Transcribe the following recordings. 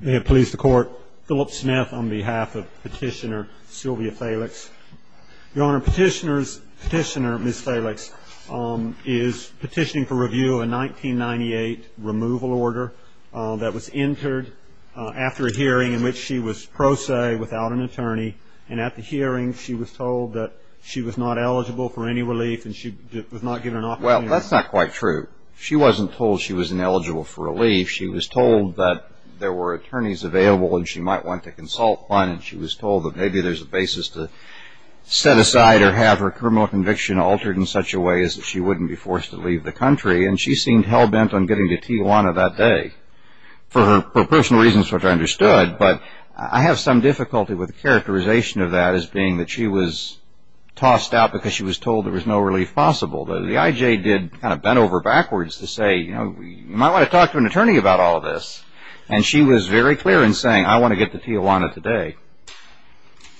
May it please the Court, Philip Smith on behalf of Petitioner Sylvia Felix. Your Honor, Petitioner Ms. Felix is petitioning for review of a 1998 removal order that was entered after a hearing in which she was pro se without an attorney, and at the hearing she was told that she was not eligible for any relief and she was not given an opportunity. Well, that's not quite true. She wasn't told she was ineligible for relief. She was told that there were attorneys available and she might want to consult one, and she was told that maybe there's a basis to set aside or have her criminal conviction altered in such a way as that she wouldn't be forced to leave the country, and she seemed hell-bent on getting to Tijuana that day for personal reasons which I understood, but I have some difficulty with the characterization of that as being that she was tossed out because she was told there was no relief possible. The I.J. did kind of bend over backwards to say, you know, you might want to talk to an attorney about all this, and she was very clear in saying, I want to get to Tijuana today.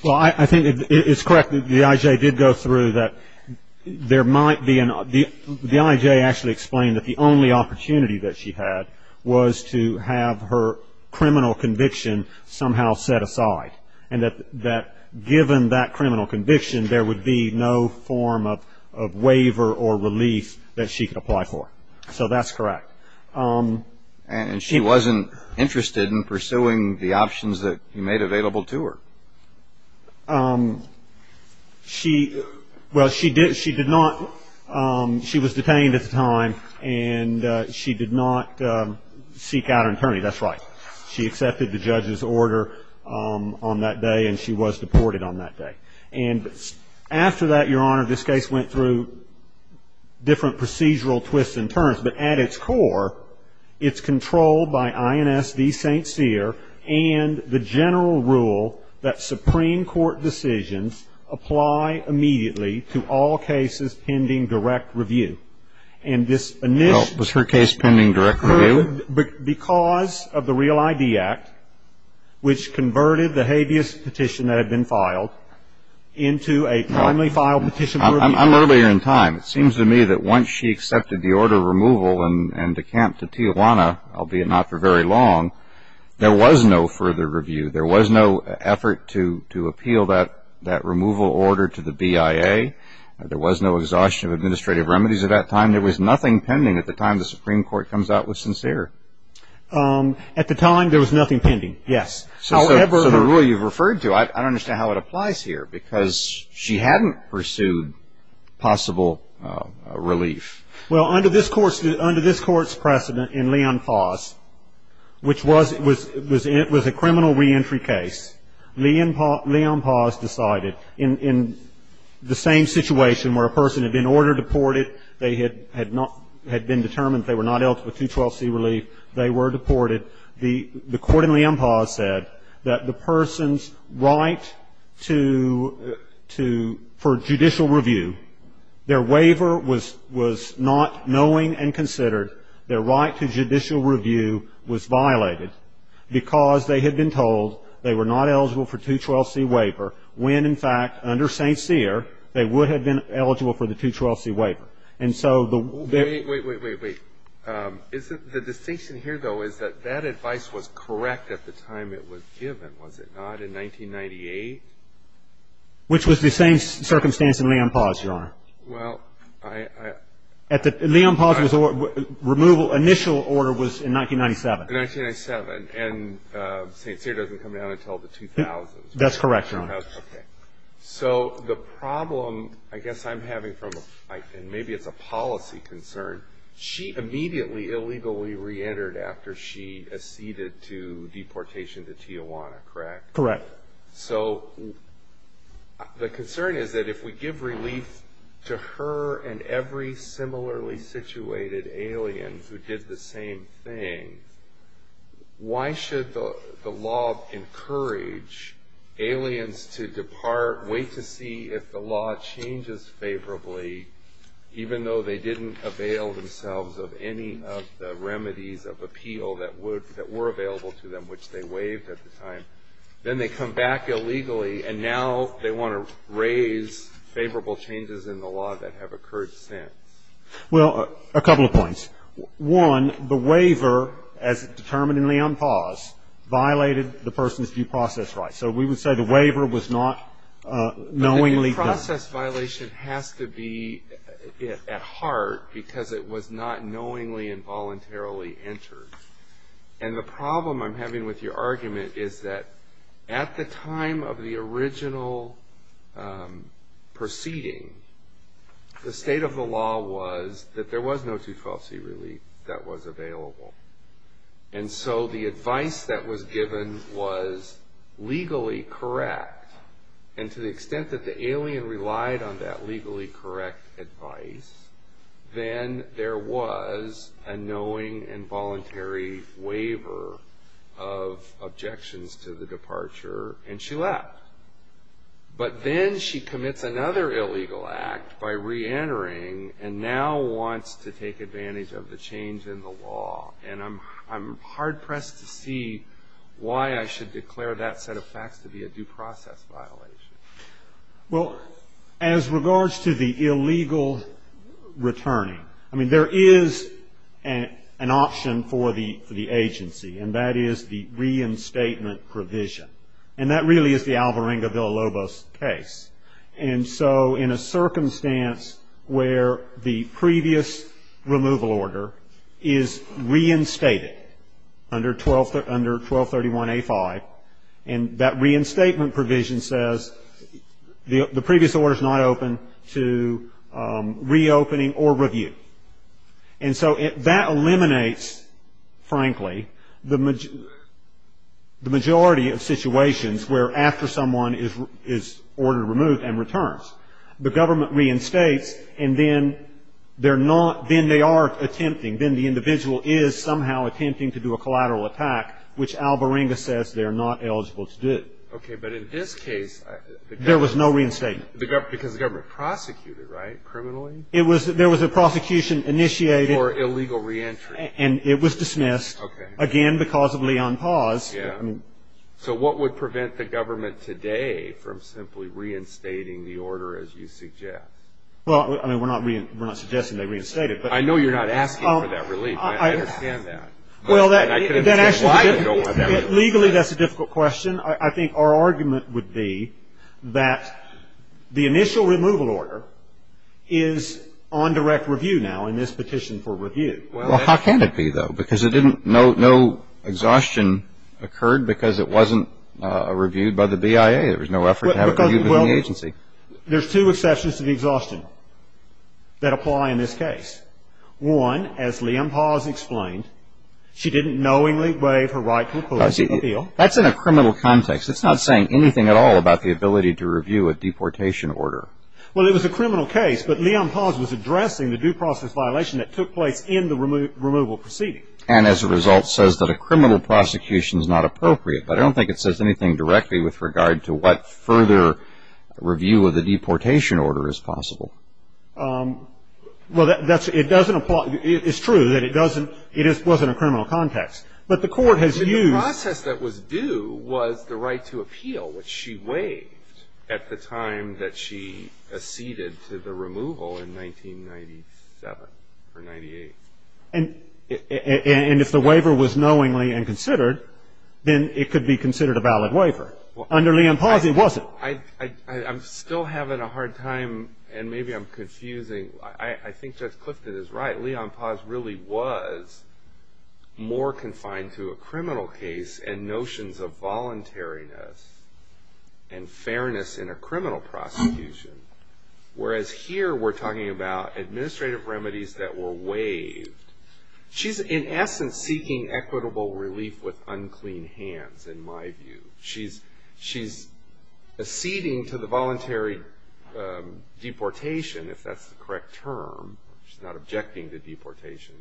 Well, I think it's correct that the I.J. did go through that there might be an – the I.J. actually explained that the only opportunity that she had was to have her criminal conviction somehow set aside and that given that criminal conviction, there would be no form of waiver or relief that she could apply for. So that's correct. And she wasn't interested in pursuing the options that you made available to her. She – well, she did – she did not – she was detained at the time, and she did not seek out an attorney. That's right. She accepted the judge's order on that day, and she was deported on that day. And after that, Your Honor, this case went through different procedural twists and turns. But at its core, it's controlled by INS v. St. Cyr and the general rule that Supreme Court decisions apply immediately to all cases pending direct review. And this – Well, was her case pending direct review? Because of the Real ID Act, which converted the habeas petition that had been filed into a timely filed petition for review. I'm earlier in time. It seems to me that once she accepted the order of removal and decamped to Tijuana, albeit not for very long, there was no further review. There was no effort to appeal that removal order to the BIA. There was no exhaustion of administrative remedies at that time. And there was nothing pending at the time the Supreme Court comes out with St. Cyr. At the time, there was nothing pending, yes. So the rule you've referred to, I don't understand how it applies here, because she hadn't pursued possible relief. Well, under this court's precedent in Leon Paz, which was a criminal reentry case, Leon Paz decided in the same situation where a person had been ordered deported, they had been determined they were not eligible for 212C relief, they were deported, the court in Leon Paz said that the person's right to – for judicial review, their waiver was not knowing and considered, their right to judicial review was violated because they had been told they were not eligible for 212C waiver when, in fact, under St. Cyr, they would have been eligible for the 212C waiver. And so the – Wait, wait, wait, wait, wait. Isn't – the distinction here, though, is that that advice was correct at the time it was given, was it not, in 1998? Which was the same circumstance in Leon Paz, Your Honor. Well, I – At the – Leon Paz was – removal – initial order was in 1997. In 1997, and St. Cyr doesn't come down until the 2000s. That's correct, Your Honor. Okay. So the problem I guess I'm having from – and maybe it's a policy concern – she immediately illegally reentered after she acceded to deportation to Tijuana, correct? Correct. So the concern is that if we give relief to her and every similarly situated alien who did the same thing, why should the law encourage aliens to depart, wait to see if the law changes favorably, even though they didn't avail themselves of any of the remedies of appeal that would – Then they come back illegally, and now they want to raise favorable changes in the law that have occurred since. Well, a couple of points. One, the waiver, as determined in Leon Paz, violated the person's due process rights. So we would say the waiver was not knowingly done. But the due process violation has to be at heart because it was not knowingly and voluntarily entered. And the problem I'm having with your argument is that at the time of the original proceeding, the state of the law was that there was no two-falsity relief that was available. And so the advice that was given was legally correct. And to the extent that the alien relied on that legally correct advice, then there was a knowing and voluntary waiver of objections to the departure, and she left. But then she commits another illegal act by reentering and now wants to take advantage of the change in the law. And I'm hard-pressed to see why I should declare that set of facts to be a due process violation. Well, as regards to the illegal returning, I mean, there is an option for the agency, and that is the reinstatement provision. And that really is the Alvarenga-Villalobos case. And so in a circumstance where the previous removal order is reinstated under 1231A5, and that reinstatement provision says the previous order is not open to reopening or review. And so that eliminates, frankly, the majority of situations where after someone is ordered to remove and returns, the government reinstates, and then they are attempting, then the individual is somehow attempting to do a collateral attack, which Alvarenga says they are not eligible to do. Okay, but in this case, the government. There was no reinstatement. Because the government prosecuted, right, criminally? There was a prosecution initiated. For illegal reentry. And it was dismissed. Okay. Again, because of Leon Paz. Yeah. So what would prevent the government today from simply reinstating the order as you suggest? Well, I mean, we're not suggesting they reinstate it. I know you're not asking for that relief. I understand that. Well, legally that's a difficult question. I think our argument would be that the initial removal order is on direct review now in this petition for review. Well, how can it be, though? Because it didn't no exhaustion occurred because it wasn't reviewed by the BIA. There was no effort to have it reviewed by the agency. Well, there's two exceptions to the exhaustion that apply in this case. One, as Leon Paz explained, she didn't knowingly waive her right to appeal. That's in a criminal context. It's not saying anything at all about the ability to review a deportation order. Well, it was a criminal case. But Leon Paz was addressing the due process violation that took place in the removal proceeding. And as a result says that a criminal prosecution is not appropriate. But I don't think it says anything directly with regard to what further review of the deportation order is possible. Well, it doesn't apply. It's true that it doesn't, it wasn't a criminal context. But the court has used. The process that was due was the right to appeal, which she waived at the time that she acceded to the removal in 1997 or 98. And if the waiver was knowingly and considered, then it could be considered a valid waiver. Under Leon Paz it wasn't. I'm still having a hard time and maybe I'm confusing. I think Judge Clifton is right. Leon Paz really was more confined to a criminal case and notions of voluntariness and fairness in a criminal prosecution. Whereas here we're talking about administrative remedies that were waived. She's in essence seeking equitable relief with unclean hands in my view. She's acceding to the voluntary deportation, if that's the correct term. She's not objecting to deportation.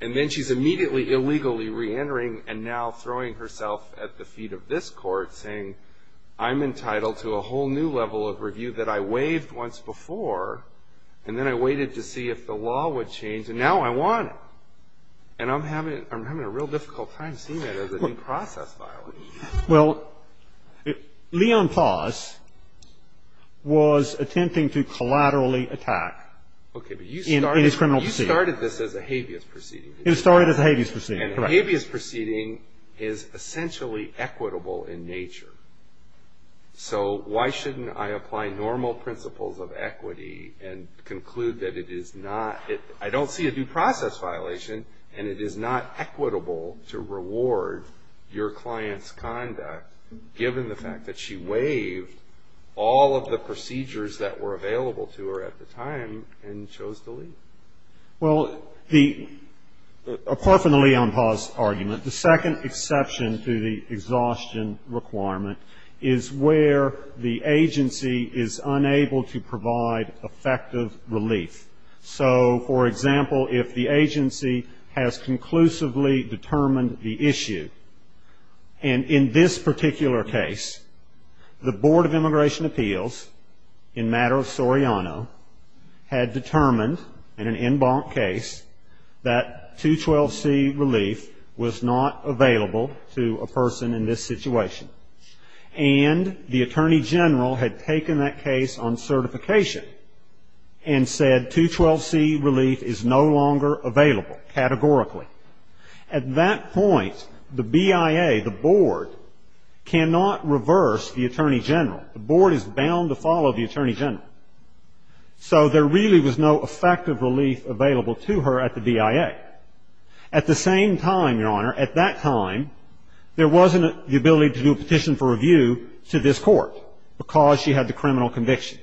And then she's immediately illegally reentering and now throwing herself at the feet of this court saying, I'm entitled to a whole new level of review that I waived once before. And then I waited to see if the law would change. And now I want it. And I'm having a real difficult time seeing that as a due process violation. Well, Leon Paz was attempting to collaterally attack in his criminal proceeding. Okay. But you started this as a habeas proceeding. It started as a habeas proceeding. Correct. And a habeas proceeding is essentially equitable in nature. So why shouldn't I apply normal principles of equity and conclude that it is not? I don't see a due process violation. And it is not equitable to reward your client's conduct, given the fact that she waived all of the procedures that were available to her at the time and chose to leave. Well, apart from the Leon Paz argument, the second exception to the exhaustion requirement is where the agency is unable to provide effective relief. So, for example, if the agency has conclusively determined the issue, and in this particular case the Board of Immigration Appeals, in matter of Soriano, had determined in an en banc case that 212C relief was not available to a person in this situation. And the Attorney General had taken that case on certification and said, 212C relief is no longer available, categorically. At that point, the BIA, the Board, cannot reverse the Attorney General. The Board is bound to follow the Attorney General. So there really was no effective relief available to her at the BIA. At the same time, Your Honor, at that time, there wasn't the ability to do a petition for review to this Court because she had the criminal conviction.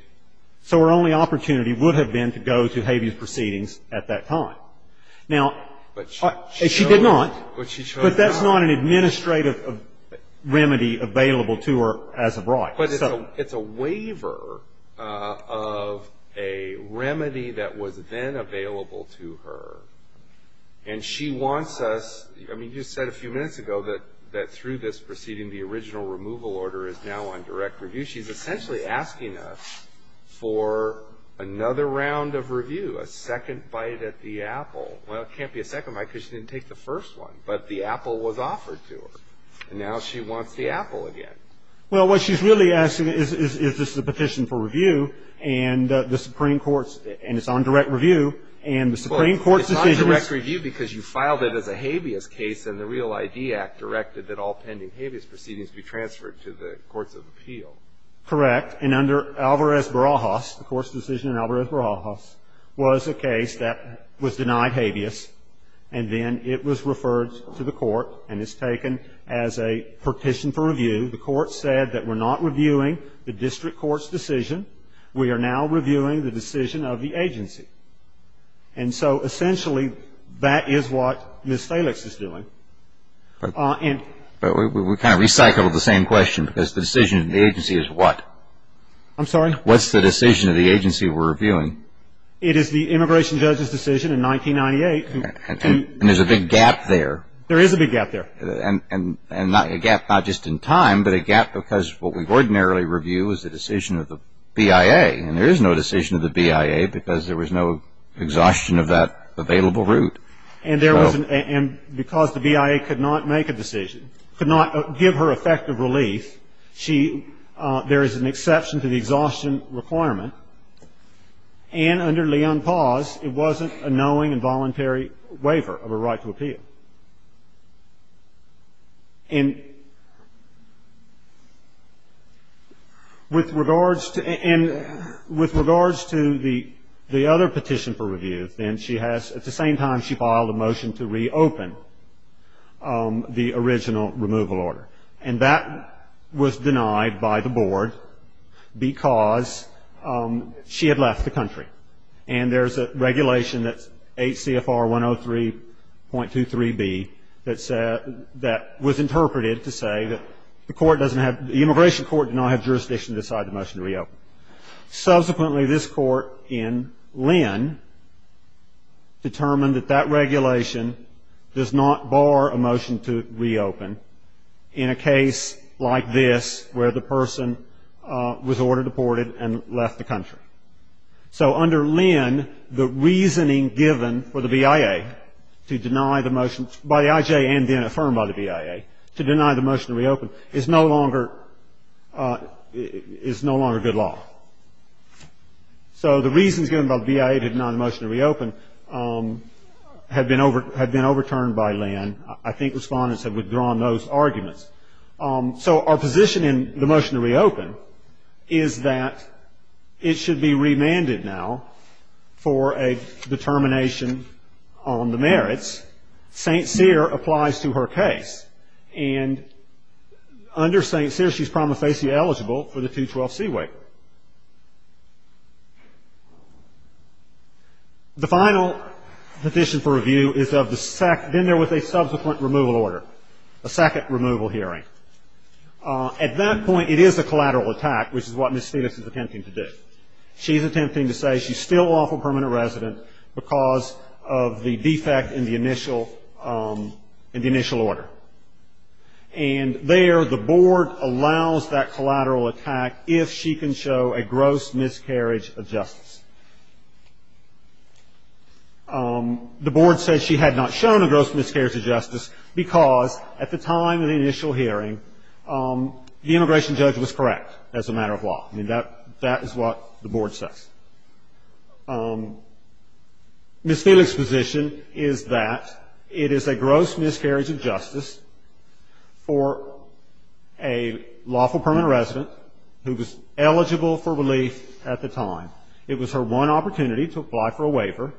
So her only opportunity would have been to go to Habeas Proceedings at that time. Now, she did not. But she chose not. But that's not an administrative remedy available to her as of right. But it's a waiver of a remedy that was then available to her. And she wants us, I mean, you said a few minutes ago that through this proceeding, the original removal order is now on direct review. She's essentially asking us for another round of review, a second bite at the apple. Well, it can't be a second bite because she didn't take the first one. But the apple was offered to her. And now she wants the apple again. Well, what she's really asking is, is this a petition for review? And the Supreme Court's – and it's on direct review. And the Supreme Court's decision is – Well, it's on direct review because you filed it as a Habeas case, and the Real ID Act directed that all pending Habeas Proceedings be transferred to the courts of appeal. Correct. And under Alvarez-Barajas, the Court's decision in Alvarez-Barajas was a case that was denied Habeas. And then it was referred to the Court and is taken as a petition for review. The Court said that we're not reviewing the district court's decision. We are now reviewing the decision of the agency. And so, essentially, that is what Ms. Thalix is doing. But we kind of recycled the same question because the decision of the agency is what? I'm sorry? What's the decision of the agency we're reviewing? It is the immigration judge's decision in 1998. And there's a big gap there. There is a big gap there. And a gap not just in time, but a gap because what we ordinarily review is the decision of the BIA. And there is no decision of the BIA because there was no exhaustion of that available route. And because the BIA could not make a decision, could not give her effective relief, there is an exception to the exhaustion requirement. And under Leon Paz, it wasn't a knowing and voluntary waiver of a right to appeal. And with regards to the other petition for review, then she has at the same time she filed a motion to reopen the original removal order. And that was denied by the board because she had left the country. And there's a regulation that's 8 CFR 103.23B that was interpreted to say that the court doesn't have, the immigration court did not have jurisdiction to decide the motion to reopen. Subsequently, this court in Lynn determined that that regulation does not bar a motion to reopen in a case like this where the person was ordered deported and left the country. So under Lynn, the reasoning given for the BIA to deny the motion by the IJ and then affirmed by the BIA to deny the motion to reopen is no longer good law. So the reasons given by the BIA to deny the motion to reopen have been overturned by Lynn. And I think Respondents have withdrawn those arguments. So our position in the motion to reopen is that it should be remanded now for a determination on the merits. St. Cyr applies to her case. And under St. Cyr, she's prima facie eligible for the 212C waiver. The final position for review is of the SEC. Then there was a subsequent removal order, a second removal hearing. At that point, it is a collateral attack, which is what Ms. Phoenix is attempting to do. She's attempting to say she's still lawful permanent resident because of the defect in the initial order. And there, the board allows that collateral attack if she can show a gross miscarriage of justice. The board says she had not shown a gross miscarriage of justice because, at the time of the initial hearing, the immigration judge was correct as a matter of law. I mean, that is what the board says. Ms. Phoenix's position is that it is a gross miscarriage of justice for a lawful permanent resident who was eligible for relief at the time. It was her one opportunity to apply for a waiver.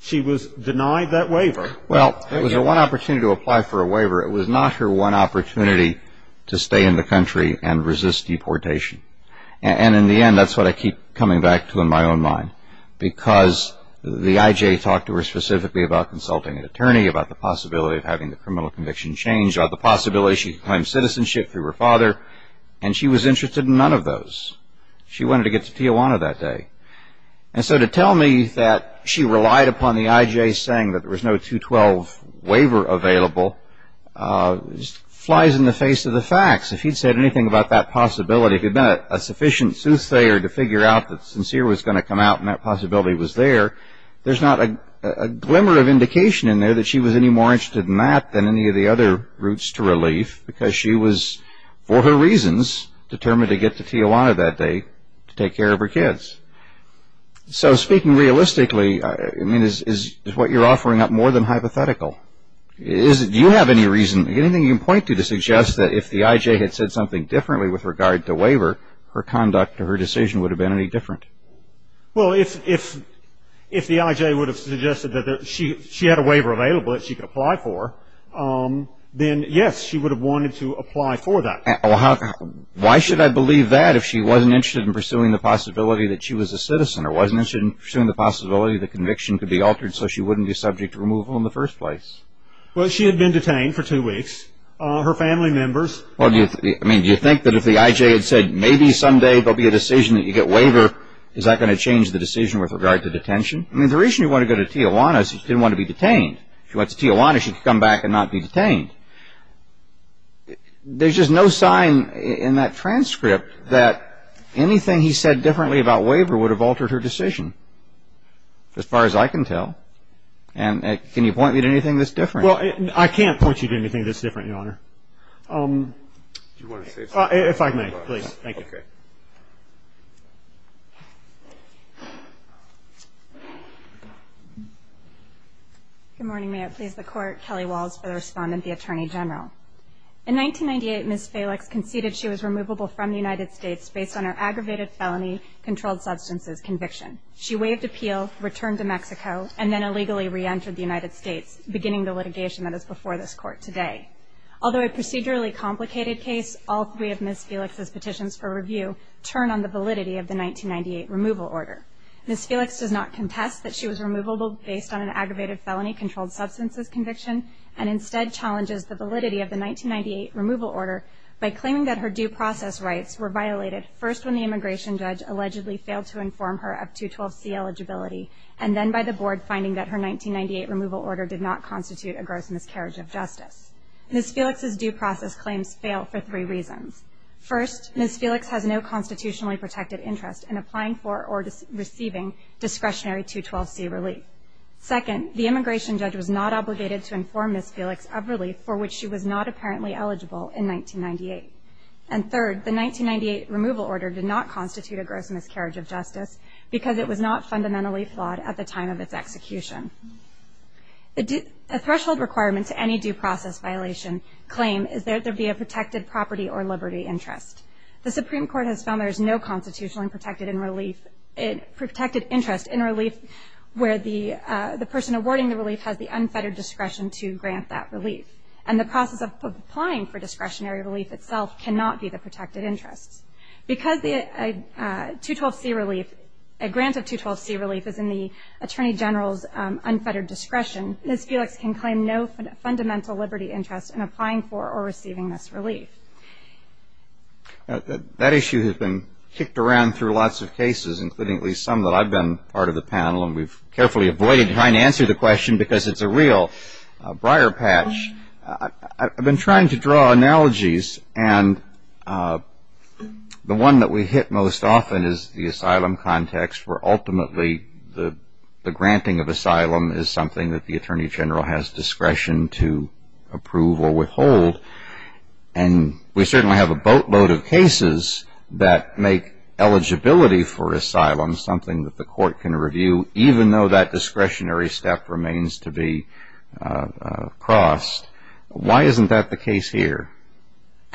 She was denied that waiver. Well, it was her one opportunity to apply for a waiver. It was not her one opportunity to stay in the country and resist deportation. And in the end, that's what I keep coming back to in my own mind, because the I.J. talked to her specifically about consulting an attorney, about the possibility of having the criminal conviction changed, about the possibility she could claim citizenship through her father. And she was interested in none of those. She wanted to get to Tijuana that day. And so to tell me that she relied upon the I.J. saying that there was no 212 waiver available flies in the face of the facts. If he'd said anything about that possibility, if he'd been a sufficient soothsayer to figure out that Sincere was going to come out and that possibility was there, there's not a glimmer of indication in there that she was any more interested in that than any of the other routes to relief, because she was, for her reasons, determined to get to Tijuana that day to take care of her kids. So speaking realistically, I mean, is what you're offering up more than hypothetical? Do you have any reason, anything you can point to, to suggest that if the I.J. had said something differently with regard to waiver, her conduct or her decision would have been any different? Well, if the I.J. would have suggested that she had a waiver available that she could apply for, then yes, she would have wanted to apply for that. Why should I believe that if she wasn't interested in pursuing the possibility that she was a citizen or wasn't interested in pursuing the possibility that conviction could be altered so she wouldn't be subject to removal in the first place? Well, she had been detained for two weeks. Her family members. I mean, do you think that if the I.J. had said, maybe someday there'll be a decision that you get waiver, is that going to change the decision with regard to detention? I mean, the reason you want to go to Tijuana is she didn't want to be detained. If she went to Tijuana, she could come back and not be detained. There's just no sign in that transcript that anything he said differently about waiver would have altered her decision, as far as I can tell. And can you point me to anything that's different? Well, I can't point you to anything that's different, Your Honor. Do you want to say something? If I may, please. Thank you. Okay. Good morning. May it please the Court. Kelly Walls for the Respondent, the Attorney General. In 1998, Ms. Felix conceded she was removable from the United States based on her aggravated felony controlled substances conviction. She waived appeal, returned to Mexico, and then illegally reentered the United States, beginning the litigation that is before this Court today. Although a procedurally complicated case, all three of Ms. Felix's petitions for review turn on the validity of the 1998 removal order. Ms. Felix does not contest that she was removable based on an aggravated felony controlled substances conviction, and instead challenges the validity of the 1998 removal order by claiming that her due process rights were violated first when the immigration judge allegedly failed to inform her of 212C eligibility, and then by the Board finding that her 1998 removal order did not constitute a gross miscarriage of justice. Ms. Felix's due process claims fail for three reasons. First, Ms. Felix has no constitutionally protected interest in applying for or receiving discretionary 212C relief. Second, the immigration judge was not obligated to inform Ms. Felix of relief for which she was not apparently eligible in 1998. And third, the 1998 removal order did not constitute a gross miscarriage of justice because it was not fundamentally flawed at the time of its execution. A threshold requirement to any due process violation claim is that there be a protected property or liberty interest. The Supreme Court has found there is no constitutionally protected interest in relief where the person awarding the relief has the unfettered discretion to grant that relief. And the process of applying for discretionary relief itself cannot be the protected interest. Because a 212C relief, a grant of 212C relief, is in the Attorney General's unfettered discretion, Ms. Felix can claim no fundamental liberty interest in applying for or receiving this relief. That issue has been kicked around through lots of cases, including at least some that I've been part of the panel, and we've carefully avoided trying to answer the question because it's a real briar patch. I've been trying to draw analogies, and the one that we hit most often is the asylum context where ultimately the granting of asylum is something that the Attorney General has discretion to approve or withhold. And we certainly have a boatload of cases that make eligibility for asylum something that the court can review, even though that discretionary step remains to be crossed. Why isn't that the case here?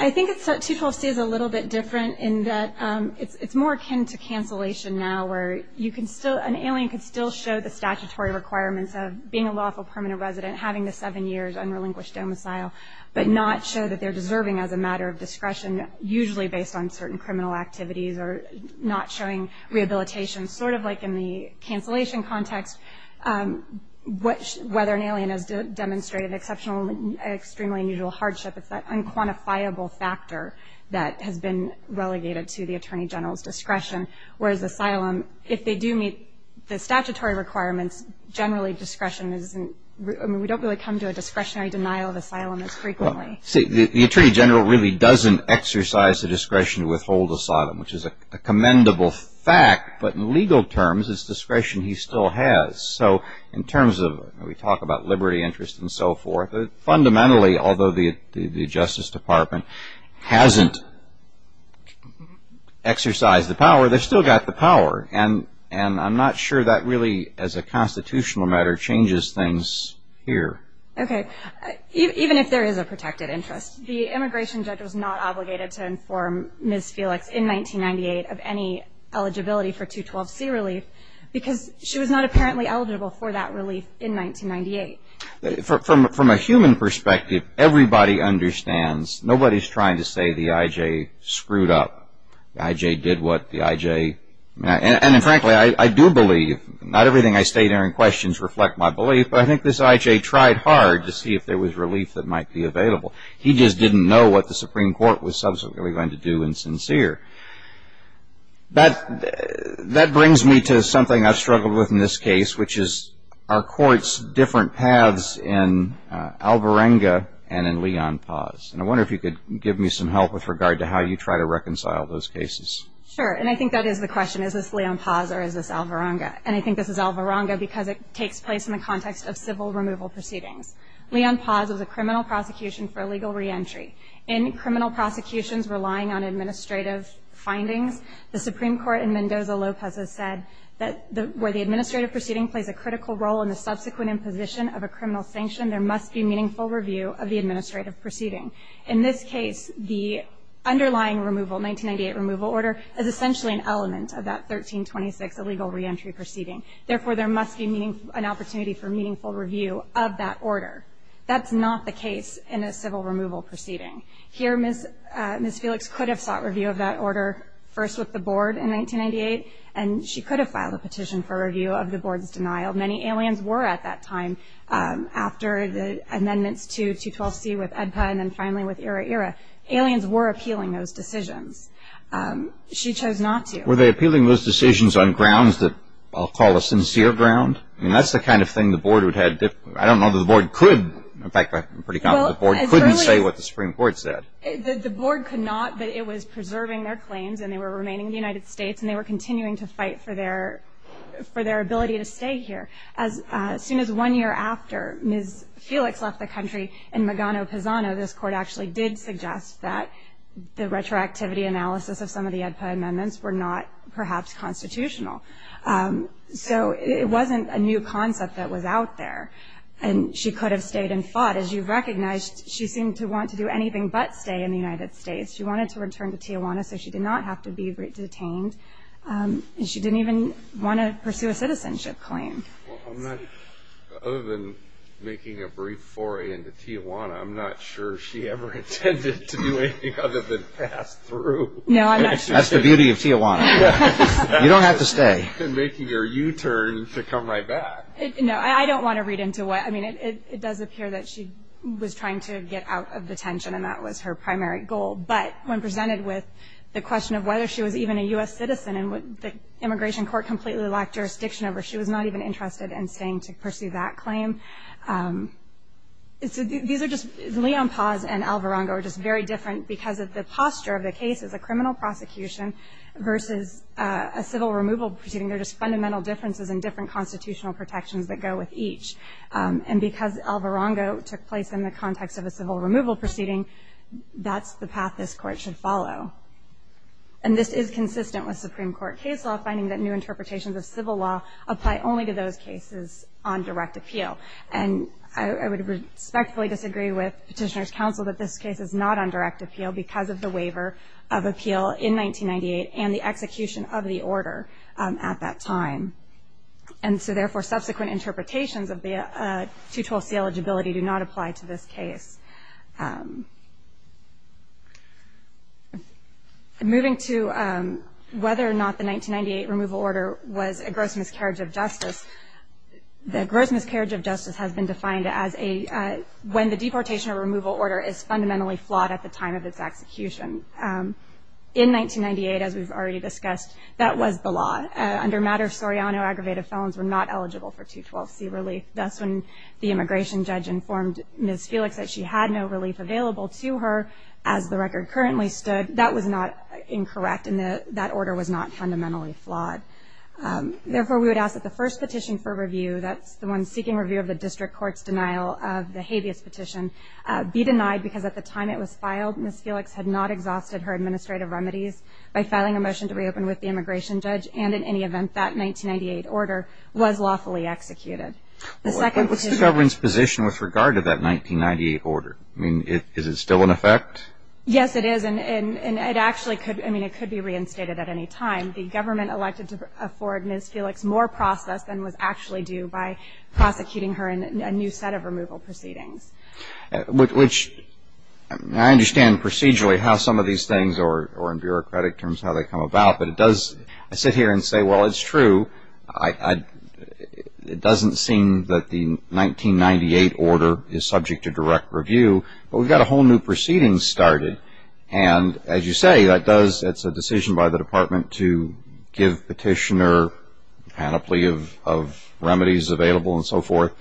I think 212C is a little bit different in that it's more akin to cancellation now, where an alien can still show the statutory requirements of being a lawful permanent resident, having the seven years unrelinquished domicile, but not show that they're deserving as a matter of discretion, usually based on certain criminal activities or not showing rehabilitation. Sort of like in the cancellation context, whether an alien has demonstrated exceptional and extremely unusual hardship, it's that unquantifiable factor that has been relegated to the Attorney General's discretion, whereas asylum, if they do meet the statutory requirements, generally discretion isn't... We don't really come to a discretionary denial of asylum as frequently. The Attorney General really doesn't exercise the discretion to withhold asylum, which is a commendable fact, but in legal terms it's discretion he still has. So in terms of... We talk about liberty, interest, and so forth. Fundamentally, although the Justice Department hasn't exercised the power, they've still got the power. And I'm not sure that really, as a constitutional matter, changes things here. Okay. Even if there is a protected interest, the immigration judge was not obligated to inform Ms. Felix in 1998 of any eligibility for 212C relief because she was not apparently eligible for that relief in 1998. From a human perspective, everybody understands. Nobody's trying to say the I.J. screwed up. The I.J. did what the I.J.... And frankly, I do believe, not everything I state here in questions reflect my belief, but I think this I.J. tried hard to see if there was relief that might be available. He just didn't know what the Supreme Court was subsequently going to do in sincere. That brings me to something I've struggled with in this case, which is are courts different paths in Alvarenga and in Leon Paz? And I wonder if you could give me some help with regard to how you try to reconcile those cases. Sure, and I think that is the question. Is this Leon Paz or is this Alvarenga? And I think this is Alvarenga because it takes place in the context of civil removal proceedings. Leon Paz was a criminal prosecution for illegal reentry. In criminal prosecutions relying on administrative findings, the Supreme Court in Mendoza-Lopez has said that where the administrative proceeding plays a critical role in the subsequent imposition of a criminal sanction, there must be meaningful review of the administrative proceeding. In this case, the underlying removal, 1998 removal order, is essentially an element of that 1326 illegal reentry proceeding. Therefore, there must be an opportunity for meaningful review of that order. That's not the case in a civil removal proceeding. Here, Ms. Felix could have sought review of that order, first with the board in 1998, and she could have filed a petition for review of the board's denial. Many aliens were at that time, after the amendments to 212C with EDPA and then finally with ERA-ERA. Aliens were appealing those decisions. She chose not to. Were they appealing those decisions on grounds that I'll call a sincere ground? I mean, that's the kind of thing the board would have. I don't know that the board could. In fact, I'm pretty confident the board couldn't say what the Supreme Court said. The board could not, but it was preserving their claims, and they were remaining in the United States, and they were continuing to fight for their ability to stay here. As soon as one year after Ms. Felix left the country in Magano-Pizano, this Court actually did suggest that the retroactivity analysis of some of the EDPA amendments were not perhaps constitutional. So it wasn't a new concept that was out there, and she could have stayed and fought. As you've recognized, she seemed to want to do anything but stay in the United States. She wanted to return to Tijuana, so she did not have to be detained, and she didn't even want to pursue a citizenship claim. Well, other than making a brief foray into Tijuana, I'm not sure she ever intended to do anything other than pass through. No, I'm not sure. That's the beauty of Tijuana. You don't have to stay. Making her U-turn to come right back. No, I don't want to read into it. I mean, it does appear that she was trying to get out of detention, and that was her primary goal. But when presented with the question of whether she was even a U.S. citizen and the immigration court completely lacked jurisdiction over her, she was not even interested in staying to pursue that claim. So these are just Leon Paz and Alvarongo are just very different because of the posture of the case as a criminal prosecution versus a civil removal proceeding. They're just fundamental differences in different constitutional protections that go with each. And because Alvarongo took place in the context of a civil removal proceeding, that's the path this Court should follow. And this is consistent with Supreme Court case law, finding that new interpretations of civil law apply only to those cases on direct appeal. And I would respectfully disagree with Petitioner's counsel that this case is not on direct appeal because of the waiver of appeal in 1998 and the execution of the order at that time. And so, therefore, subsequent interpretations of the 212C eligibility do not apply to this case. Moving to whether or not the 1998 removal order was a gross miscarriage of justice, the gross miscarriage of justice has been defined as a when the deportation or removal order is fundamentally flawed at the time of its execution. In 1998, as we've already discussed, that was the law. Under matter of Soriano, aggravated felons were not eligible for 212C relief. That's when the immigration judge informed Ms. Felix that she had to leave and had no relief available to her as the record currently stood. That was not incorrect and that order was not fundamentally flawed. Therefore, we would ask that the first petition for review, that's the one seeking review of the district court's denial of the habeas petition, be denied because at the time it was filed, Ms. Felix had not exhausted her administrative remedies by filing a motion to reopen with the immigration judge and in any event that 1998 order was lawfully executed. What's the government's position with regard to that 1998 order? I mean, is it still in effect? Yes, it is and it actually could be reinstated at any time. The government elected to afford Ms. Felix more process than was actually due by prosecuting her in a new set of removal proceedings. Which I understand procedurally how some of these things or in bureaucratic terms how they come about, but it does, I sit here and say, well, it's true. It doesn't seem that the 1998 order is subject to direct review, but we've got a whole new proceeding started and as you say, it's a decision by the department to give petitioner a panoply of remedies available and so forth.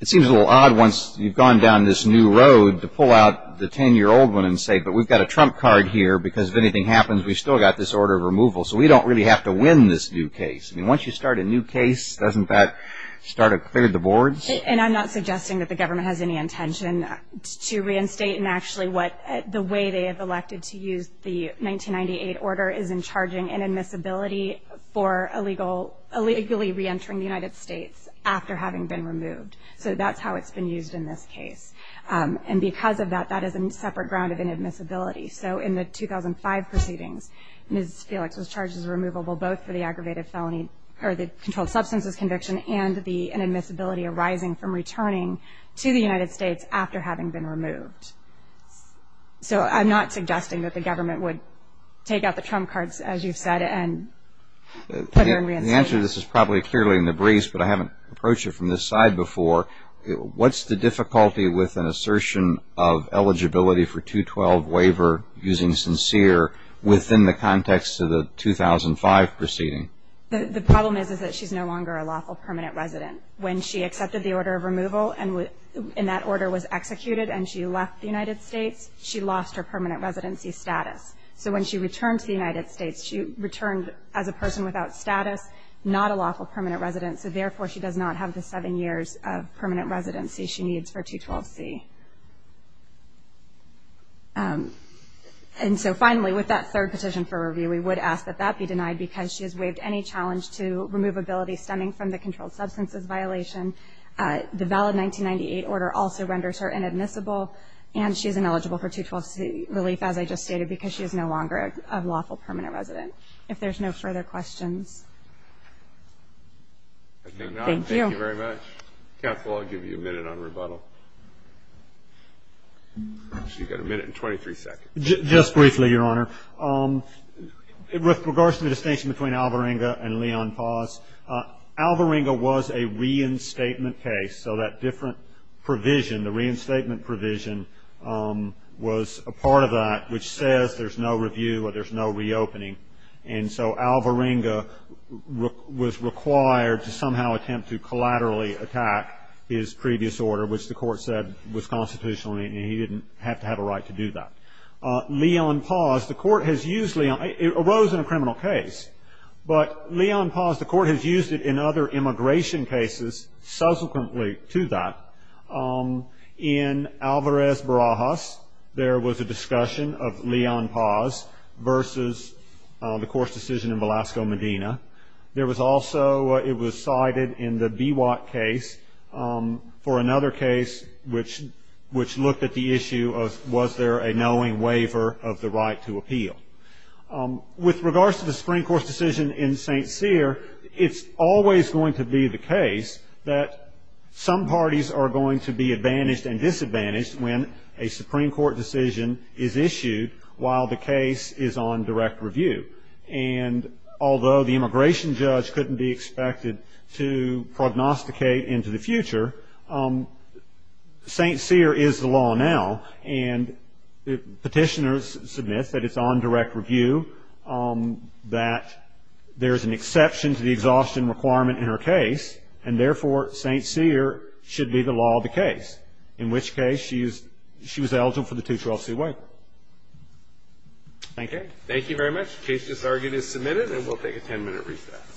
It seems a little odd once you've gone down this new road to pull out the 10-year-old one and say, but we've got a trump card here because if anything happens, we've still got this order of removal, so we don't really have to win this new case. I mean, once you start a new case, doesn't that start to clear the boards? And I'm not suggesting that the government has any intention to reinstate and actually what the way they have elected to use the 1998 order is in charging inadmissibility for illegally reentering the United States after having been removed. So that's how it's been used in this case. And because of that, that is a separate ground of inadmissibility. So in the 2005 proceedings, Ms. Felix was charged as removable both for the aggravated felony or the controlled substances conviction and the inadmissibility arising from returning to the United States after having been removed. So I'm not suggesting that the government would take out the trump cards, as you've said, and put it in reinstatement. The answer to this is probably clearly in the briefs, but I haven't approached it from this side before. What's the difficulty with an assertion of eligibility for 212 waiver using sincere within the context of the 2005 proceeding? The problem is that she's no longer a lawful permanent resident. When she accepted the order of removal and that order was executed and she left the United States, she lost her permanent residency status. So when she returned to the United States, she returned as a person without status, not a lawful permanent resident, so therefore she does not have the seven years of permanent residency she needs for 212C. And so finally, with that third petition for review, we would ask that that be denied because she has waived any challenge to removability stemming from the controlled substances violation. The valid 1998 order also renders her inadmissible, and she is ineligible for 212C relief, as I just stated, because she is no longer a lawful permanent resident. If there's no further questions. I think not. Thank you very much. Counsel, I'll give you a minute on rebuttal. You've got a minute and 23 seconds. Just briefly, Your Honor. With regards to the distinction between Alvarenga and Leon Paz, Alvarenga was a reinstatement case, so that different provision, the reinstatement provision was a part of that, which says there's no review or there's no reopening, and so Alvarenga was required to somehow attempt to collaterally attack his previous order, which the court said was constitutional, and he didn't have to have a right to do that. Leon Paz, the court has used Leon Paz. It arose in a criminal case, but Leon Paz, the court has used it in other immigration cases subsequently to that. In Alvarez Barajas, there was a discussion of Leon Paz versus the court's decision in Velasco, Medina. There was also, it was cited in the Biwak case for another case, which looked at the issue of was there a knowing waiver of the right to appeal. With regards to the Supreme Court's decision in St. Cyr, it's always going to be the case that some parties are going to be advantaged and disadvantaged when a Supreme Court decision is issued while the case is on direct review, and although the immigration judge couldn't be expected to prognosticate into the future, St. Cyr is the law now, and petitioners submit that it's on direct review, that there's an exception to the exhaustion requirement in her case, and therefore St. Cyr should be the law of the case, in which case she was eligible for the 212c waiver. Thank you. Thank you very much. The case disargued is submitted, and we'll take a ten-minute recess.